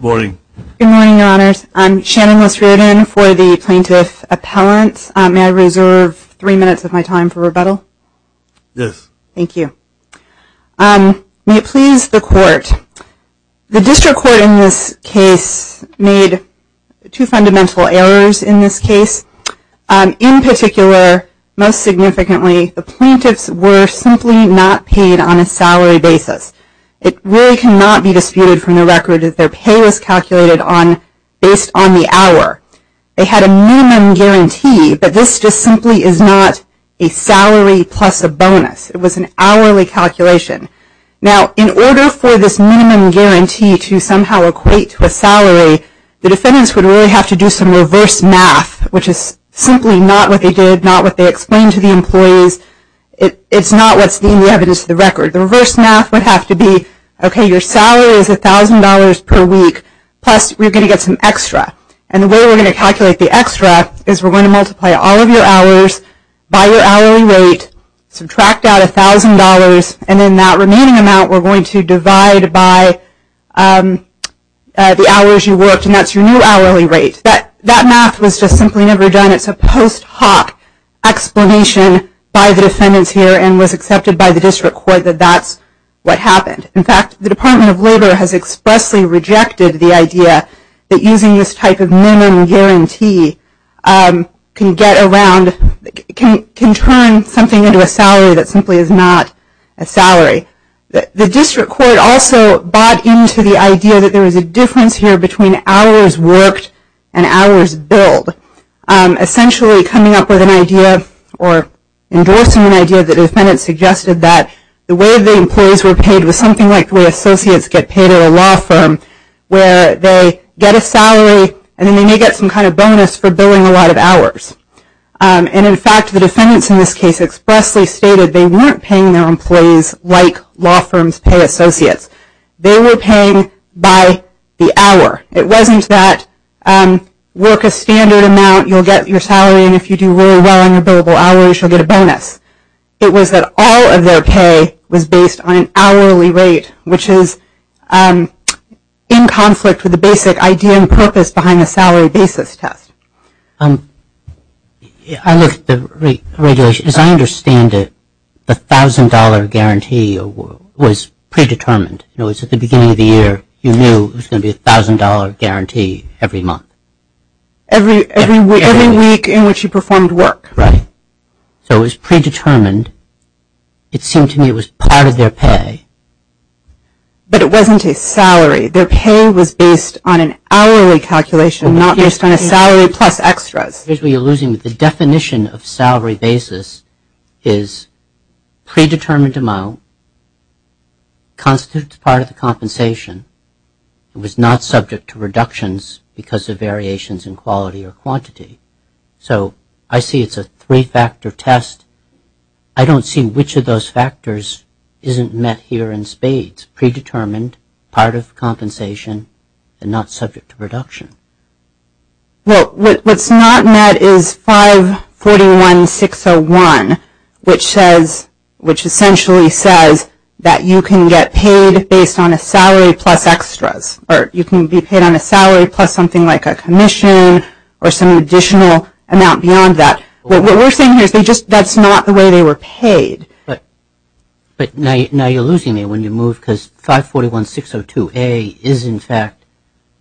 Good morning, Your Honors. I'm Shannon Liss-Riordan for the Plaintiff Appellant. May I reserve three minutes of my time for rebuttal? Yes. Thank you. May it please the Court, the District Court in this case made two fundamental errors in this case. In particular, most significantly, the plaintiffs were simply not paid on a salary basis. It really cannot be disputed from the record that their pay was calculated based on the hour. They had a minimum guarantee, but this just simply is not a salary plus a bonus. It was an hourly calculation. Now, in order for this minimum guarantee to somehow equate to a salary, the defendants would really have to do some reverse math, which is simply not what they did, not what they explained to the employees. It's not what's in the evidence of the record. The reverse math would have to be, okay, your salary is $1,000 per week, plus we're going to get some extra. And the way we're going to calculate the extra is we're going to multiply all of your hours by your hourly rate, subtract out $1,000, and then that remaining amount we're going to divide by the hours you worked, and that's your new hourly rate. That math was just simply never done. It's a post hoc explanation by the defendants here and was accepted by the district court that that's what happened. In fact, the Department of Labor has expressly rejected the idea that using this type of minimum guarantee can get around, can turn something into a salary that simply is not a salary. The district court also bought into the idea that there was a difference here between hours worked and hours billed. Essentially, coming up with an idea or endorsing an idea, the defendants suggested that the way the employees were paid was something like the way associates get paid at a law firm where they get a salary and then they may get some kind of bonus for billing a lot of hours. And, in fact, the defendants in this case expressly stated they weren't paying their employees like law firms pay associates. They were paying by the hour. It wasn't that work a standard amount, you'll get your salary, and if you do really well on your billable hours, you'll get a bonus. It was that all of their pay was based on an hourly rate, which is in conflict with the basic idea and purpose behind the salary basis test. I looked at the regulation. As I understand it, the $1,000 guarantee was predetermined. At the beginning of the year, you knew it was going to be a $1,000 guarantee every month. Every week in which you performed work. Right. So it was predetermined. It seemed to me it was part of their pay. But it wasn't a salary. Their pay was based on an hourly calculation, not based on a salary plus extras. The definition of salary basis is predetermined amount, constitutes part of the compensation, and was not subject to reductions because of variations in quality or quantity. So I see it's a three-factor test. I don't see which of those factors isn't met here in spades. Predetermined, part of compensation, and not subject to reduction. Well, what's not met is 541-601, which essentially says that you can get paid based on a salary plus extras. Or you can be paid on a salary plus something like a commission or some additional amount beyond that. What we're saying here is that's not the way they were paid. But now you're losing me when you move because 541-602A is, in fact,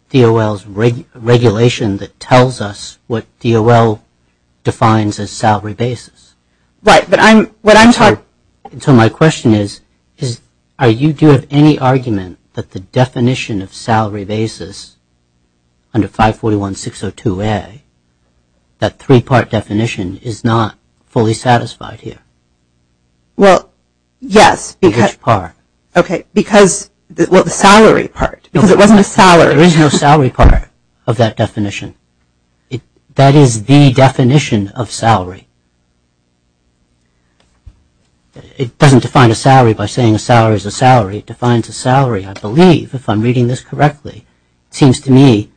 DOL's regulation that tells us what DOL defines as salary basis. Right, but I'm talking – So my question is, do you have any argument that the definition of salary basis under 541-602A, that three-part definition, is not fully satisfied here? Well, yes. Which part? Okay, because – well, the salary part, because it wasn't a salary. There is no salary part of that definition. That is the definition of salary. It doesn't define a salary by saying a salary is a salary. It defines a salary, I believe, if I'm reading this correctly. It seems to me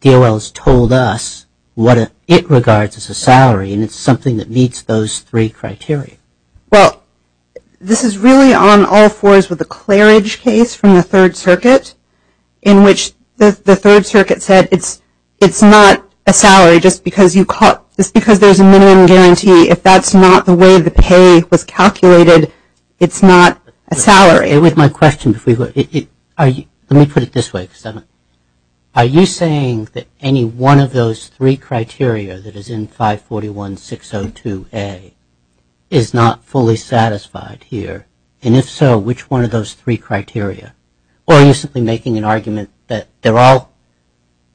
DOL has told us what it regards as a salary, and it's something that meets those three criteria. Well, this is really on all fours with the Claridge case from the Third Circuit, in which the Third Circuit said it's not a salary just because there's a minimum guarantee. If that's not the way the pay was calculated, it's not a salary. With my question, let me put it this way. Are you saying that any one of those three criteria that is in 541-602A is not fully satisfied here? And if so, which one of those three criteria? Or are you simply making an argument that they're all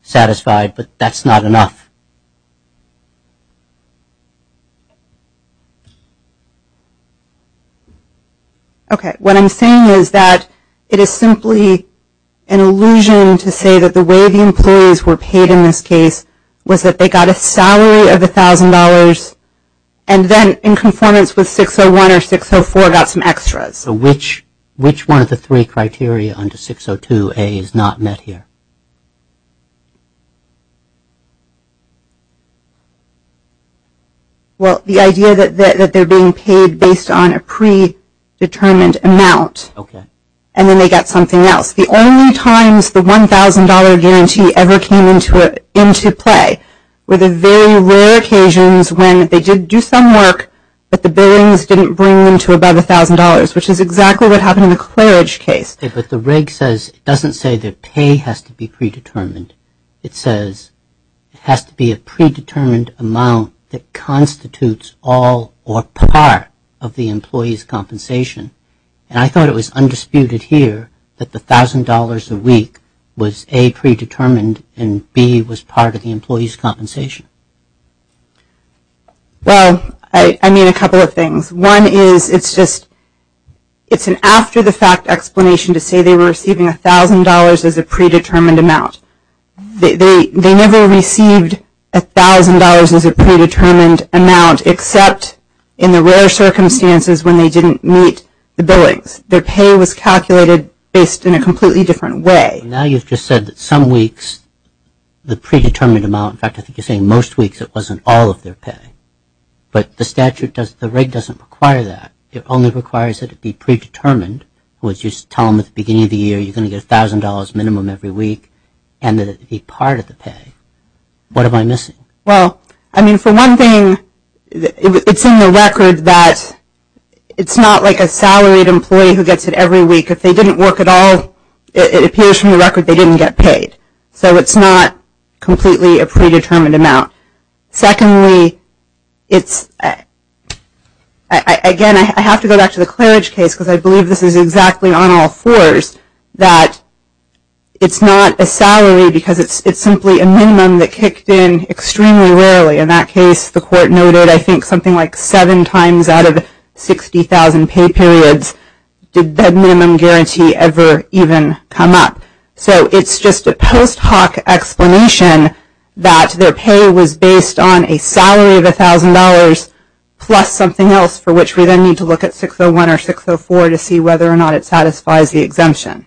satisfied but that's not enough? Okay. What I'm saying is that it is simply an illusion to say that the way the employees were paid in this case was that they got a salary of $1,000 and then in conformance with 601 or 604 got some extras. So which one of the three criteria under 602A is not met here? Well, the idea that they're being paid based on a predetermined amount. Okay. And then they got something else. The only times the $1,000 guarantee ever came into play were the very rare occasions when they did do some work but the billings didn't bring them to above $1,000, which is exactly what happened in the Claridge case. But the reg says it doesn't say that pay has to be predetermined. It says it has to be a predetermined amount that constitutes all or part of the employee's compensation. And I thought it was undisputed here that the $1,000 a week was A, predetermined, and B was part of the employee's compensation. Well, I mean a couple of things. One is it's an after-the-fact explanation to say they were receiving $1,000 as a predetermined amount. They never received $1,000 as a predetermined amount except in the rare circumstances when they didn't meet the billings. Their pay was calculated based in a completely different way. Now you've just said that some weeks the predetermined amount, in fact I think you're saying most weeks it wasn't all of their pay. But the statute does, the reg doesn't require that. It only requires that it be predetermined, which you tell them at the beginning of the year you're going to get $1,000 minimum every week and that it be part of the pay. What am I missing? Well, I mean for one thing it's in the record that it's not like a salaried employee who gets it every week. If they didn't work at all, it appears from the record they didn't get paid. So it's not completely a predetermined amount. Secondly, again I have to go back to the Claridge case because I believe this is exactly on all fours, that it's not a salary because it's simply a minimum that kicked in extremely rarely. In that case the court noted I think something like seven times out of 60,000 pay periods did that minimum guarantee ever even come up. So it's just a post hoc explanation that their pay was based on a salary of $1,000 plus something else for which we then need to look at 601 or 604 to see whether or not it satisfies the exemption.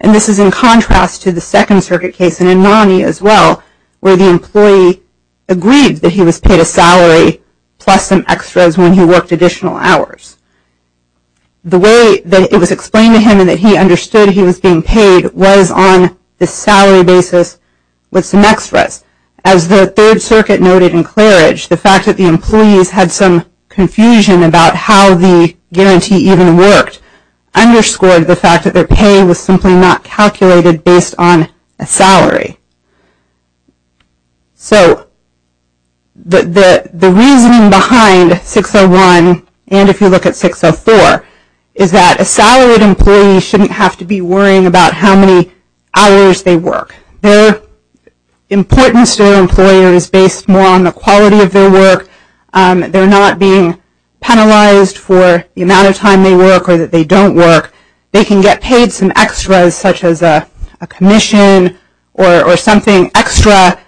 And this is in contrast to the Second Circuit case and in Nonnie as well where the employee agreed that he was paid a salary plus some extras when he worked additional hours. The way that it was explained to him and that he understood he was being paid was on the salary basis with some extras. As the Third Circuit noted in Claridge, the fact that the employees had some confusion about how the guarantee even worked underscored the fact that their pay was simply not calculated based on a salary. So the reasoning behind 601 and if you look at 604 is that a salaried employee shouldn't have to be worrying about how many hours they work. Their importance to their employer is based more on the quality of their work. They're not being penalized for the amount of time they work or that they don't work. They can get paid some extras such as a commission or something extra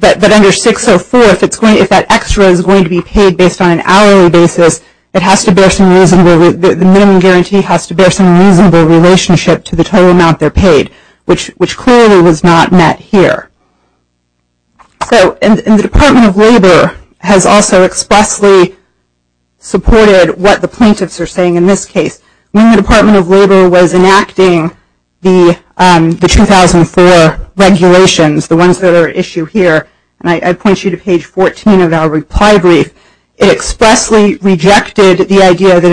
that under 604, if that extra is going to be paid based on an hourly basis, the minimum guarantee has to bear some reasonable relationship to the total amount they're paid, which clearly was not met here. And the Department of Labor has also expressly supported what the plaintiffs are saying in this case. When the Department of Labor was enacting the 2004 regulations, the ones that are at issue here, and I point you to page 14 of our reply brief, it expressly rejected the idea that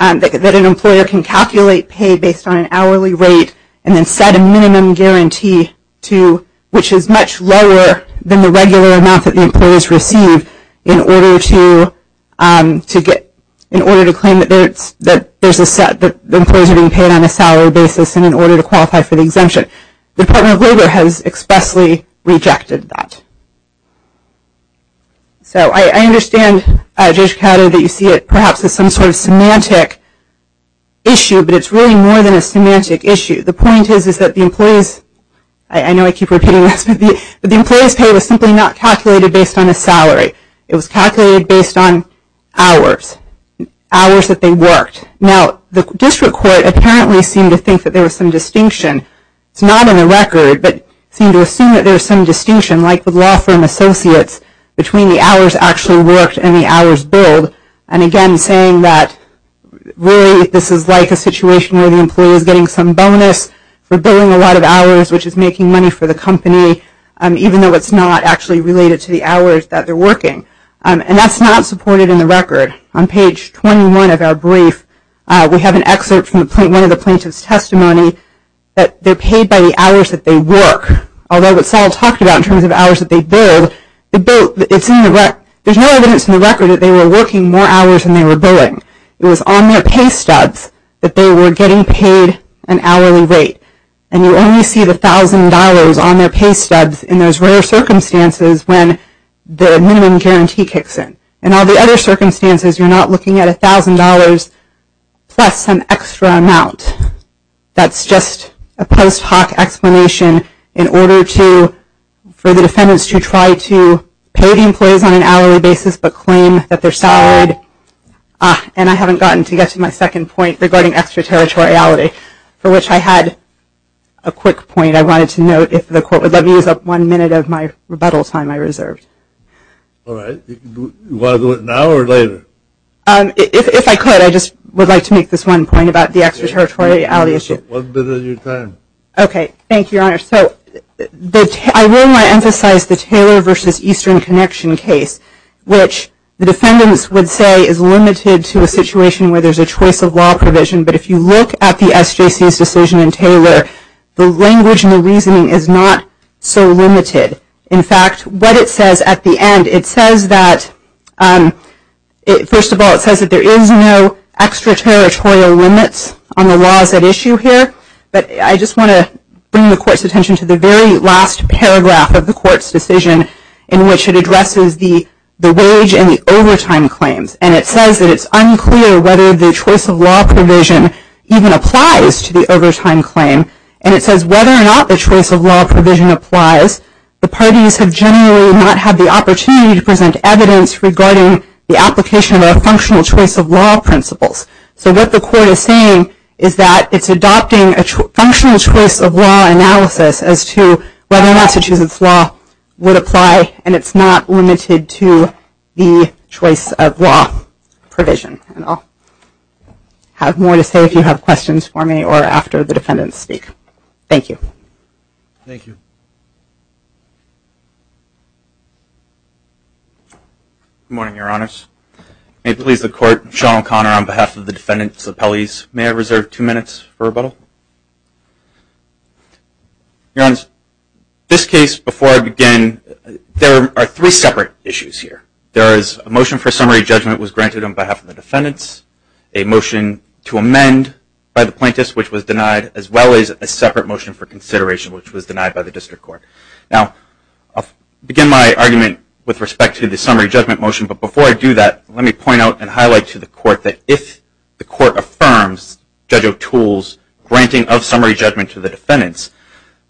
an employer can calculate pay based on an hourly rate and then set a minimum guarantee to, which is much lower than the regular amount that the employees receive in order to claim that there's a set that the employees are being paid on a salary basis and in order to qualify for the exemption. The Department of Labor has expressly rejected that. So I understand, Judge Picatto, that you see it perhaps as some sort of semantic issue, but it's really more than a semantic issue. The point is that the employees, I know I keep repeating this, but the employees' pay was simply not calculated based on a salary. It was calculated based on hours, hours that they worked. Now, the district court apparently seemed to think that there was some distinction. It's not on the record, but it seemed to assume that there was some distinction, like the law firm associates, between the hours actually worked and the hours billed, and again saying that really this is like a situation where the employee is getting some bonus for billing a lot of hours, which is making money for the company, even though it's not actually related to the hours that they're working. And that's not supported in the record. On page 21 of our brief, we have an excerpt from one of the plaintiff's testimony that they're paid by the hours that they work, although what Sol talked about in terms of hours that they billed, there's no evidence in the record that they were working more hours than they were billing. It was on their pay stubs that they were getting paid an hourly rate, and you only see the $1,000 on their pay stubs in those rare circumstances when the minimum guarantee kicks in. In all the other circumstances, you're not looking at $1,000 plus some extra amount. That's just a post hoc explanation in order for the defendants to try to pay the employees on an hourly basis but claim that they're salaried. And I haven't gotten to get to my second point regarding extraterritoriality, for which I had a quick point I wanted to note, if the court would let me use up one minute of my rebuttal time I reserved. All right. Do you want to do it now or later? If I could, I just would like to make this one point about the extraterritoriality issue. One minute of your time. Thank you, Your Honor. So I will now emphasize the Taylor v. Eastern Connection case, which the defendants would say is limited to a situation where there's a choice of law provision, but if you look at the SJC's decision in Taylor, the language and the reasoning is not so limited. In fact, what it says at the end, it says that, first of all, it says that there is no extraterritorial limits on the laws at issue here. But I just want to bring the court's attention to the very last paragraph of the court's decision in which it addresses the wage and the overtime claims. And it says that it's unclear whether the choice of law provision even applies to the overtime claim. And it says whether or not the choice of law provision applies, the parties have generally not had the opportunity to present evidence regarding the application of our functional choice of law principles. So what the court is saying is that it's adopting a functional choice of law analysis as to whether Massachusetts law would apply, and it's not limited to the choice of law provision. And I'll have more to say if you have questions for me or after the defendants speak. Thank you. Thank you. Good morning, Your Honors. May it please the Court, Sean O'Connor on behalf of the defendants' appellees. May I reserve two minutes for rebuttal? Your Honors, this case, before I begin, there are three separate issues here. There is a motion for summary judgment was granted on behalf of the defendants, a motion to amend by the plaintiffs, which was denied, as well as a separate motion for consideration, which was denied by the district court. Now, I'll begin my argument with respect to the summary judgment motion, but before I do that, let me point out and highlight to the court that if the court affirms Judge O'Toole's granting of summary judgment to the defendants,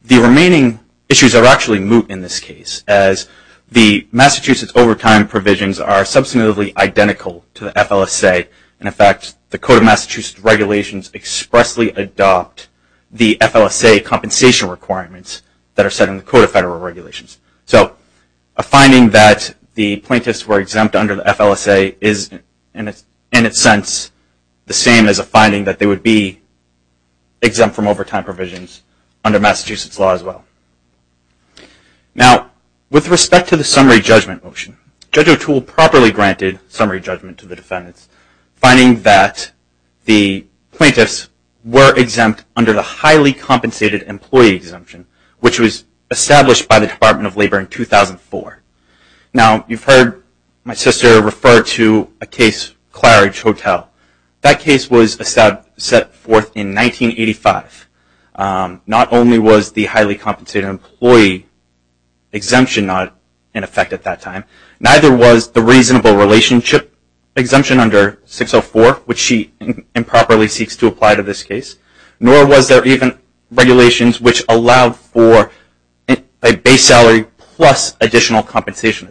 the remaining issues are actually moot in this case, as the Massachusetts overtime provisions are substantively identical to the FLSA. In effect, the Code of Massachusetts regulations expressly adopt the FLSA compensation requirements that are set in the Code of Federal Regulations. So a finding that the plaintiffs were exempt under the FLSA is, in a sense, the same as a finding that they would be exempt from overtime provisions under Massachusetts law as well. Now, with respect to the summary judgment motion, Judge O'Toole properly granted summary judgment to the defendants, finding that the plaintiffs were exempt under the highly compensated employee exemption, which was established by the Department of Labor in 2004. Now, you've heard my sister refer to a case, Claridge Hotel. That case was set forth in 1985. Not only was the highly compensated employee exemption not in effect at that time, neither was the reasonable relationship exemption under 604, which she improperly seeks to apply to this case, nor was there even regulations which allowed for a base salary plus additional compensation.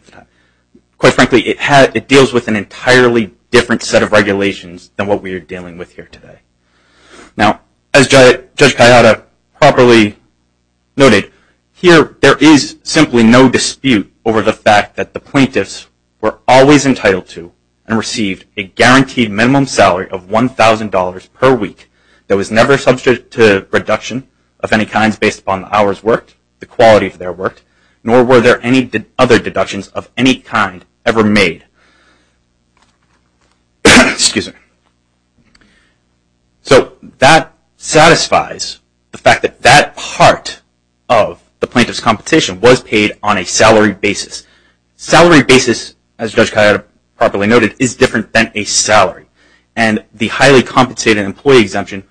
Quite frankly, it deals with an entirely different set of regulations than what we are dealing with here today. Now, as Judge Kayada properly noted, here there is simply no dispute over the fact that the plaintiffs were always entitled to and received a guaranteed minimum salary of $1,000 per week that was never substituted to a reduction of any kinds based upon the hours worked, the quality of their work, nor were there any other deductions of any kind ever made. So that satisfies the fact that that part of the plaintiff's compensation was paid on a salary basis. Salary basis, as Judge Kayada properly noted, is different than a salary. And the highly compensated employee exemption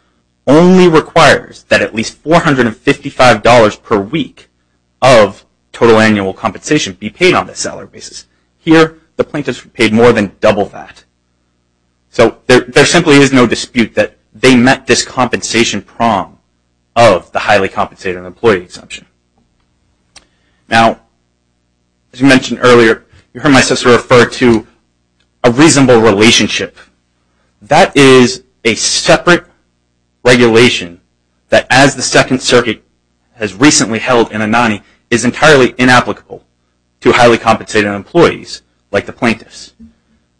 only requires that at least $455 per week of total annual compensation be paid on the salary basis. Here, the plaintiffs were paid more than double that. So there simply is no dispute that they met this compensation prong of the highly compensated employee exemption. Now, as we mentioned earlier, you heard my sister refer to a reasonable relationship. That is a separate regulation that, as the Second Circuit has recently held in Anani, is entirely inapplicable to highly compensated employees like the plaintiffs.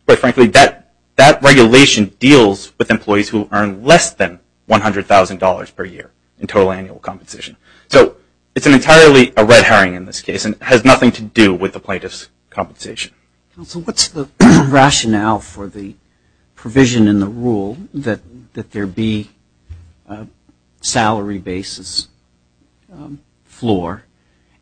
Quite frankly, that regulation deals with employees who earn less than $100,000 per year in total annual compensation. So it's entirely a red herring in this case and has nothing to do with the plaintiffs' compensation. So what's the rationale for the provision in the rule that there be a salary basis floor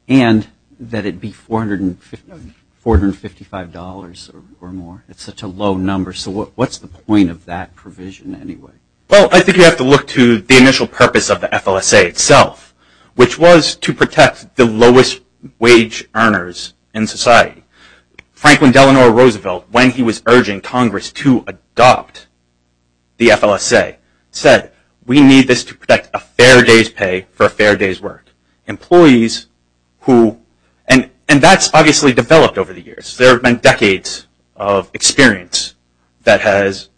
and that it be $455 or more? It's such a low number. So what's the point of that provision anyway? Well, I think you have to look to the initial purpose of the FLSA itself, which was to protect the lowest wage earners in society. Franklin Delano Roosevelt, when he was urging Congress to adopt the FLSA, said we need this to protect a fair day's pay for a fair day's work. And that's obviously developed over the years. There have been decades of experience that has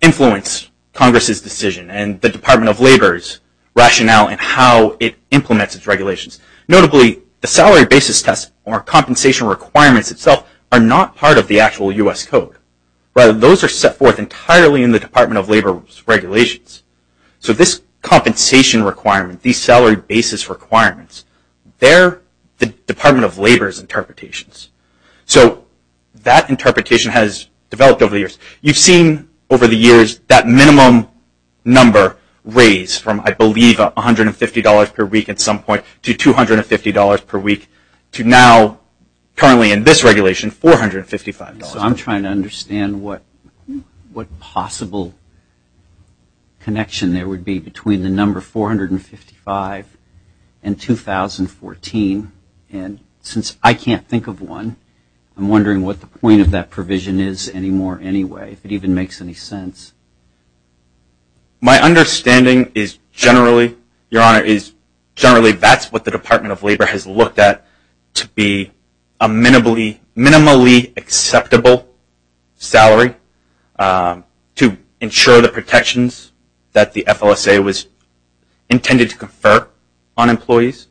influenced Congress's decision and the Department of Labor's rationale in how it implements its regulations. Notably, the salary basis test or compensation requirements itself are not part of the actual U.S. Code. Those are set forth entirely in the Department of Labor's regulations. So this compensation requirement, these salary basis requirements, they're the Department of Labor's interpretations. So that interpretation has developed over the years. You've seen over the years that minimum number raised from, I believe, $150 per week at some point to $250 per week to now, currently in this regulation, $455. So I'm trying to understand what possible connection there would be between the number 455 and 2014. And since I can't think of one, I'm wondering what the point of that provision is anymore anyway, if it even makes any sense. My understanding is generally, Your Honor, salary to ensure the protections that the FLSA was intended to confer on employees.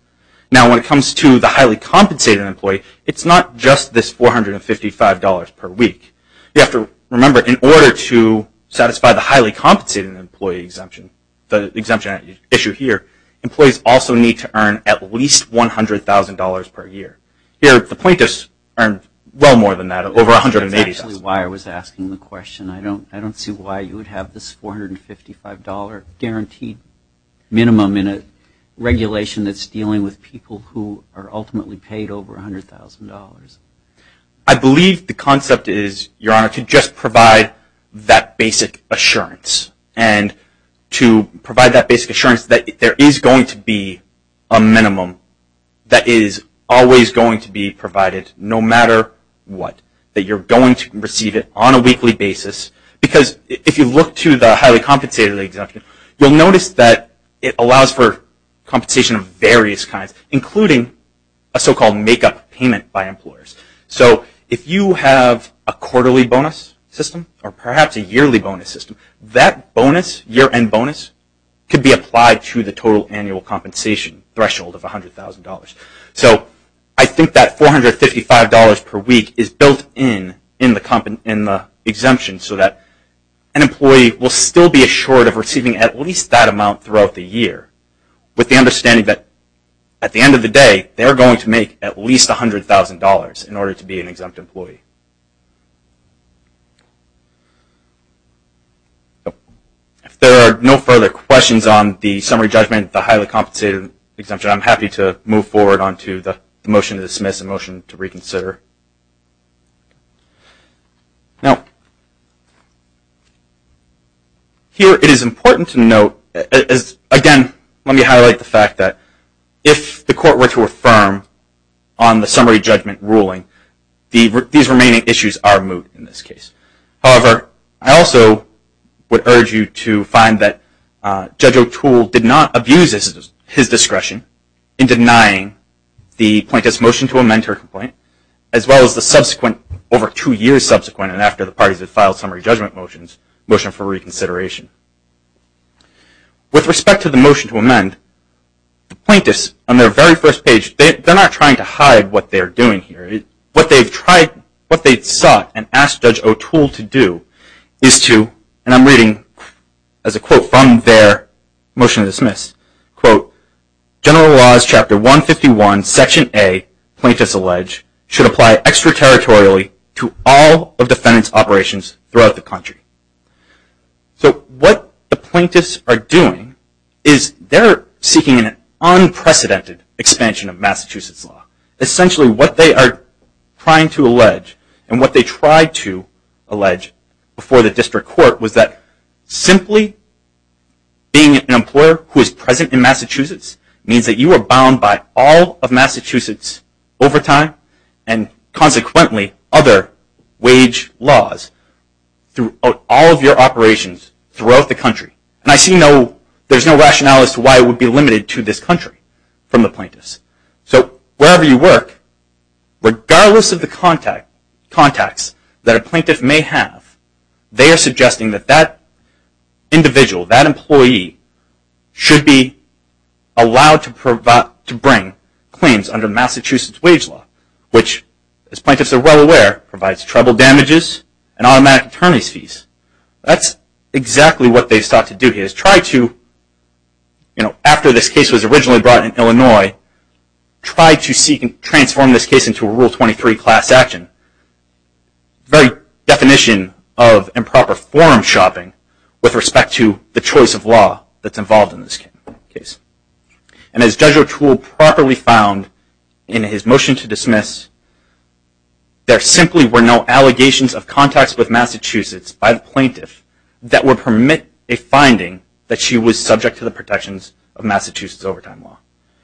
Now, when it comes to the highly compensated employee, it's not just this $455 per week. You have to remember, in order to satisfy the highly compensated employee exemption, the exemption at issue here, employees also need to earn at least $100,000 per year. Here, the plaintiffs earn well more than that, over $180,000. That's actually why I was asking the question. I don't see why you would have this $455 guaranteed minimum in a regulation that's dealing with people who are ultimately paid over $100,000. I believe the concept is, Your Honor, to just provide that basic assurance. And to provide that basic assurance that there is going to be a minimum that is always going to be provided, no matter what, that you're going to receive it on a weekly basis. Because if you look to the highly compensated exemption, you'll notice that it allows for compensation of various kinds, including a so-called make-up payment by employers. So if you have a quarterly bonus system, or perhaps a yearly bonus system, that bonus, year-end bonus, could be applied to the total annual compensation threshold of $100,000. So I think that $455 per week is built in, in the exemption, so that an employee will still be assured of receiving at least that amount throughout the year, with the understanding that at the end of the day, they're going to make at least $100,000 in order to be an exempt employee. If there are no further questions on the summary judgment of the highly compensated exemption, I'm happy to move forward on to the motion to dismiss and motion to reconsider. Now, here it is important to note, again, let me highlight the fact that if the court were to affirm on the summary judgment ruling, these remaining issues are moved in this case. However, I also would urge you to find that Judge O'Toole did not abuse his discretion in denying the plaintiff's motion to amend her complaint, as well as the subsequent, over two years subsequent and after the parties had filed summary judgment motions, motion for reconsideration. With respect to the motion to amend, the plaintiffs, on their very first page, they're not trying to hide what they're doing here. What they sought and asked Judge O'Toole to do is to, and I'm reading as a quote from their motion to dismiss, quote, General Laws Chapter 151, Section A, plaintiffs allege, should apply extraterritorially to all of defendant's operations throughout the country. So what the plaintiffs are doing is they're seeking an unprecedented expansion of Massachusetts law. Essentially, what they are trying to allege and what they tried to allege before the district court was that simply being an employer who is present in Massachusetts means that you are bound by all of Massachusetts overtime and consequently other wage laws throughout all of your operations throughout the country. And I see no, there's no rationale as to why it would be limited to this country from the plaintiffs. So wherever you work, regardless of the contacts that a plaintiff may have, they are suggesting that that individual, that employee, should be allowed to bring claims under Massachusetts wage law, which, as plaintiffs are well aware, provides tribal damages and automatic attorney's fees. That's exactly what they've sought to do here, is try to, after this case was originally brought in Illinois, try to transform this case into a Rule 23 class action. The very definition of improper forum shopping with respect to the choice of law that's involved in this case. And as Judge O'Toole properly found in his motion to dismiss, there simply were no allegations of contacts with Massachusetts by the plaintiff that would permit a finding that she was subject to the protections of Massachusetts overtime law.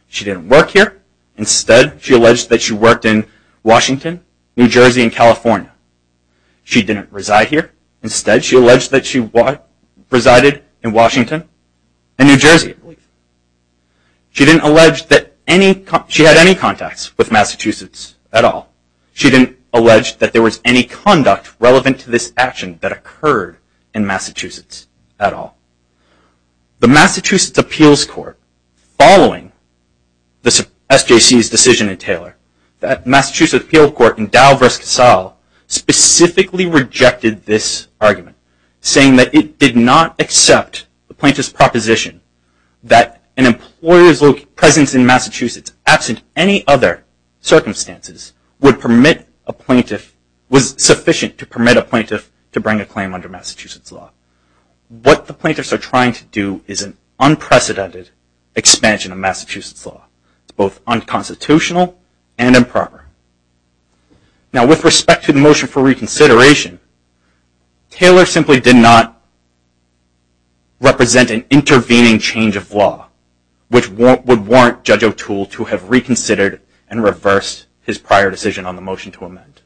She didn't work here. Instead, she alleged that she worked in Washington, New Jersey, and California. She didn't reside here. Instead, she alleged that she resided in Washington and New Jersey. She didn't allege that she had any contacts with Massachusetts at all. She didn't allege that there was any conduct relevant to this action that occurred in Massachusetts at all. The Massachusetts Appeals Court, following SJC's decision in Taylor, that Massachusetts Appeals Court in Dow v. Casale specifically rejected this argument, saying that it did not accept the plaintiff's proposition that an employer's presence in Massachusetts, absent any other circumstances, would permit a plaintiff, was sufficient to permit a plaintiff to bring a claim under Massachusetts law. What the plaintiffs are trying to do is an unprecedented expansion of Massachusetts law. It's both unconstitutional and improper. Now, with respect to the motion for reconsideration, Taylor simply did not represent an intervening change of law, which would warrant Judge O'Toole to have reconsidered and reversed his prior decision on the motion to amend.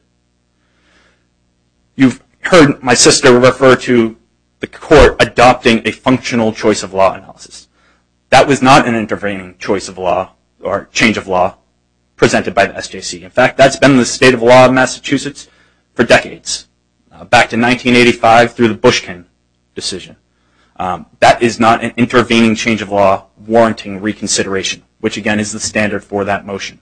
You've heard my sister refer to the court adopting a functional choice of law analysis. That was not an intervening choice of law, or change of law, presented by the SJC. In fact, that's been the state of law in Massachusetts for decades, back to 1985 through the Bushkin decision. That is not an intervening change of law warranting reconsideration, which again is the standard for that motion.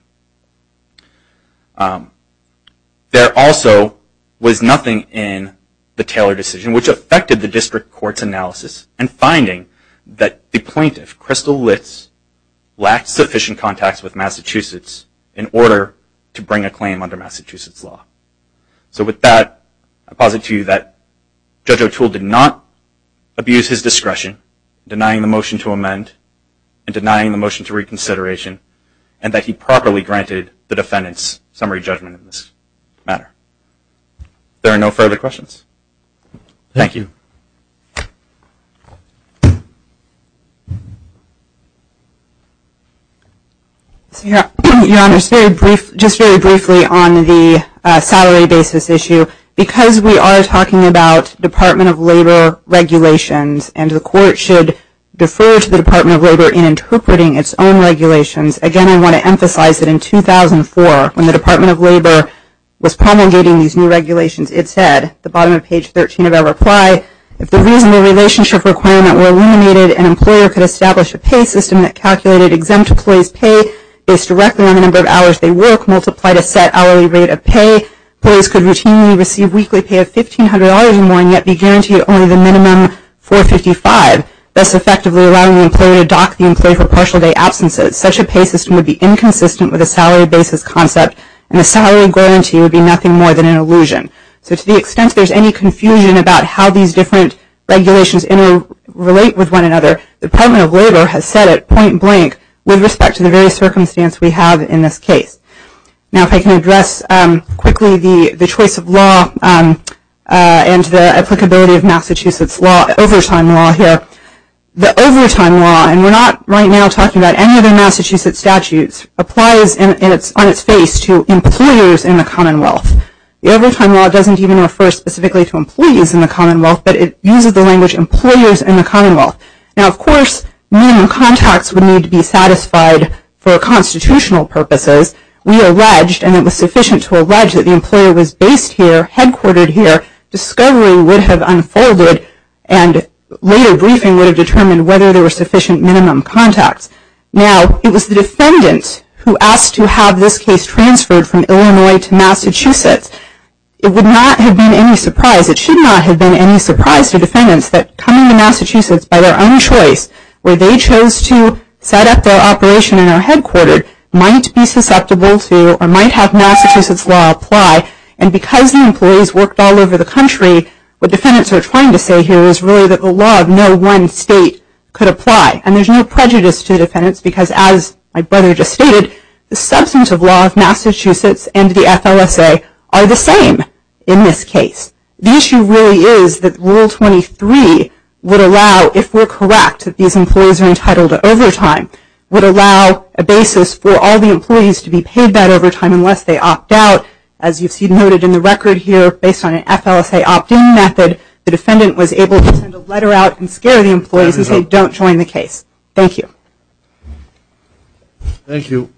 There also was nothing in the Taylor decision which affected the district court's analysis in finding that the plaintiff, Crystal Litz, lacked sufficient contacts with Massachusetts in order to bring a claim under Massachusetts law. So with that, I posit to you that Judge O'Toole did not abuse his discretion, denying the motion to amend and denying the motion to reconsideration, and that he properly granted the defendant's summary judgment in this matter. There are no further questions. Thank you. Your Honor, just very briefly on the salary basis issue, because we are talking about Department of Labor regulations, and the court should defer to the Department of Labor in interpreting its own regulations. Again, I want to emphasize that in 2004, when the Department of Labor was promulgating these new regulations, it said, at the bottom of page 13 of our reply, if the reasonable relationship requirement were eliminated, an employer could establish a pay system that calculated exempt employees' pay based directly on the number of hours they work, multiplied a set hourly rate of pay. Employees could routinely receive weekly pay of $1,500 or more, and yet be guaranteed only the minimum $4.55, thus effectively allowing the employer to dock the employee for partial day absences. Such a pay system would be inconsistent with the salary basis concept, and the salary guarantee would be nothing more than an illusion. So to the extent there's any confusion about how these different regulations interrelate with one another, the Department of Labor has said it point blank with respect to the various circumstances we have in this case. Now if I can address quickly the choice of law and the applicability of Massachusetts overtime law here. The overtime law, and we're not right now talking about any other Massachusetts statutes, applies on its face to employers in the Commonwealth. The overtime law doesn't even refer specifically to employees in the Commonwealth, Now of course minimum contacts would need to be satisfied for constitutional purposes. We alleged, and it was sufficient to allege, that the employer was based here, headquartered here, discovery would have unfolded, and later briefing would have determined whether there were sufficient minimum contacts. Now it was the defendant who asked to have this case transferred from Illinois to Massachusetts. It would not have been any surprise, it should not have been any surprise to defendants, that coming to Massachusetts by their own choice, where they chose to set up their operation in our headquarter, might be susceptible to, or might have Massachusetts law apply. And because the employees worked all over the country, what defendants are trying to say here is really that the law of no one state could apply. And there's no prejudice to defendants, because as my brother just stated, the substance of law of Massachusetts and the FLSA are the same in this case. The issue really is that Rule 23 would allow, if we're correct, that these employees are entitled to overtime, would allow a basis for all the employees to be paid that overtime unless they opt out. As you see noted in the record here, based on an FLSA opt-in method, the defendant was able to send a letter out and scare the employees and say don't join the case. Thank you. Thank you.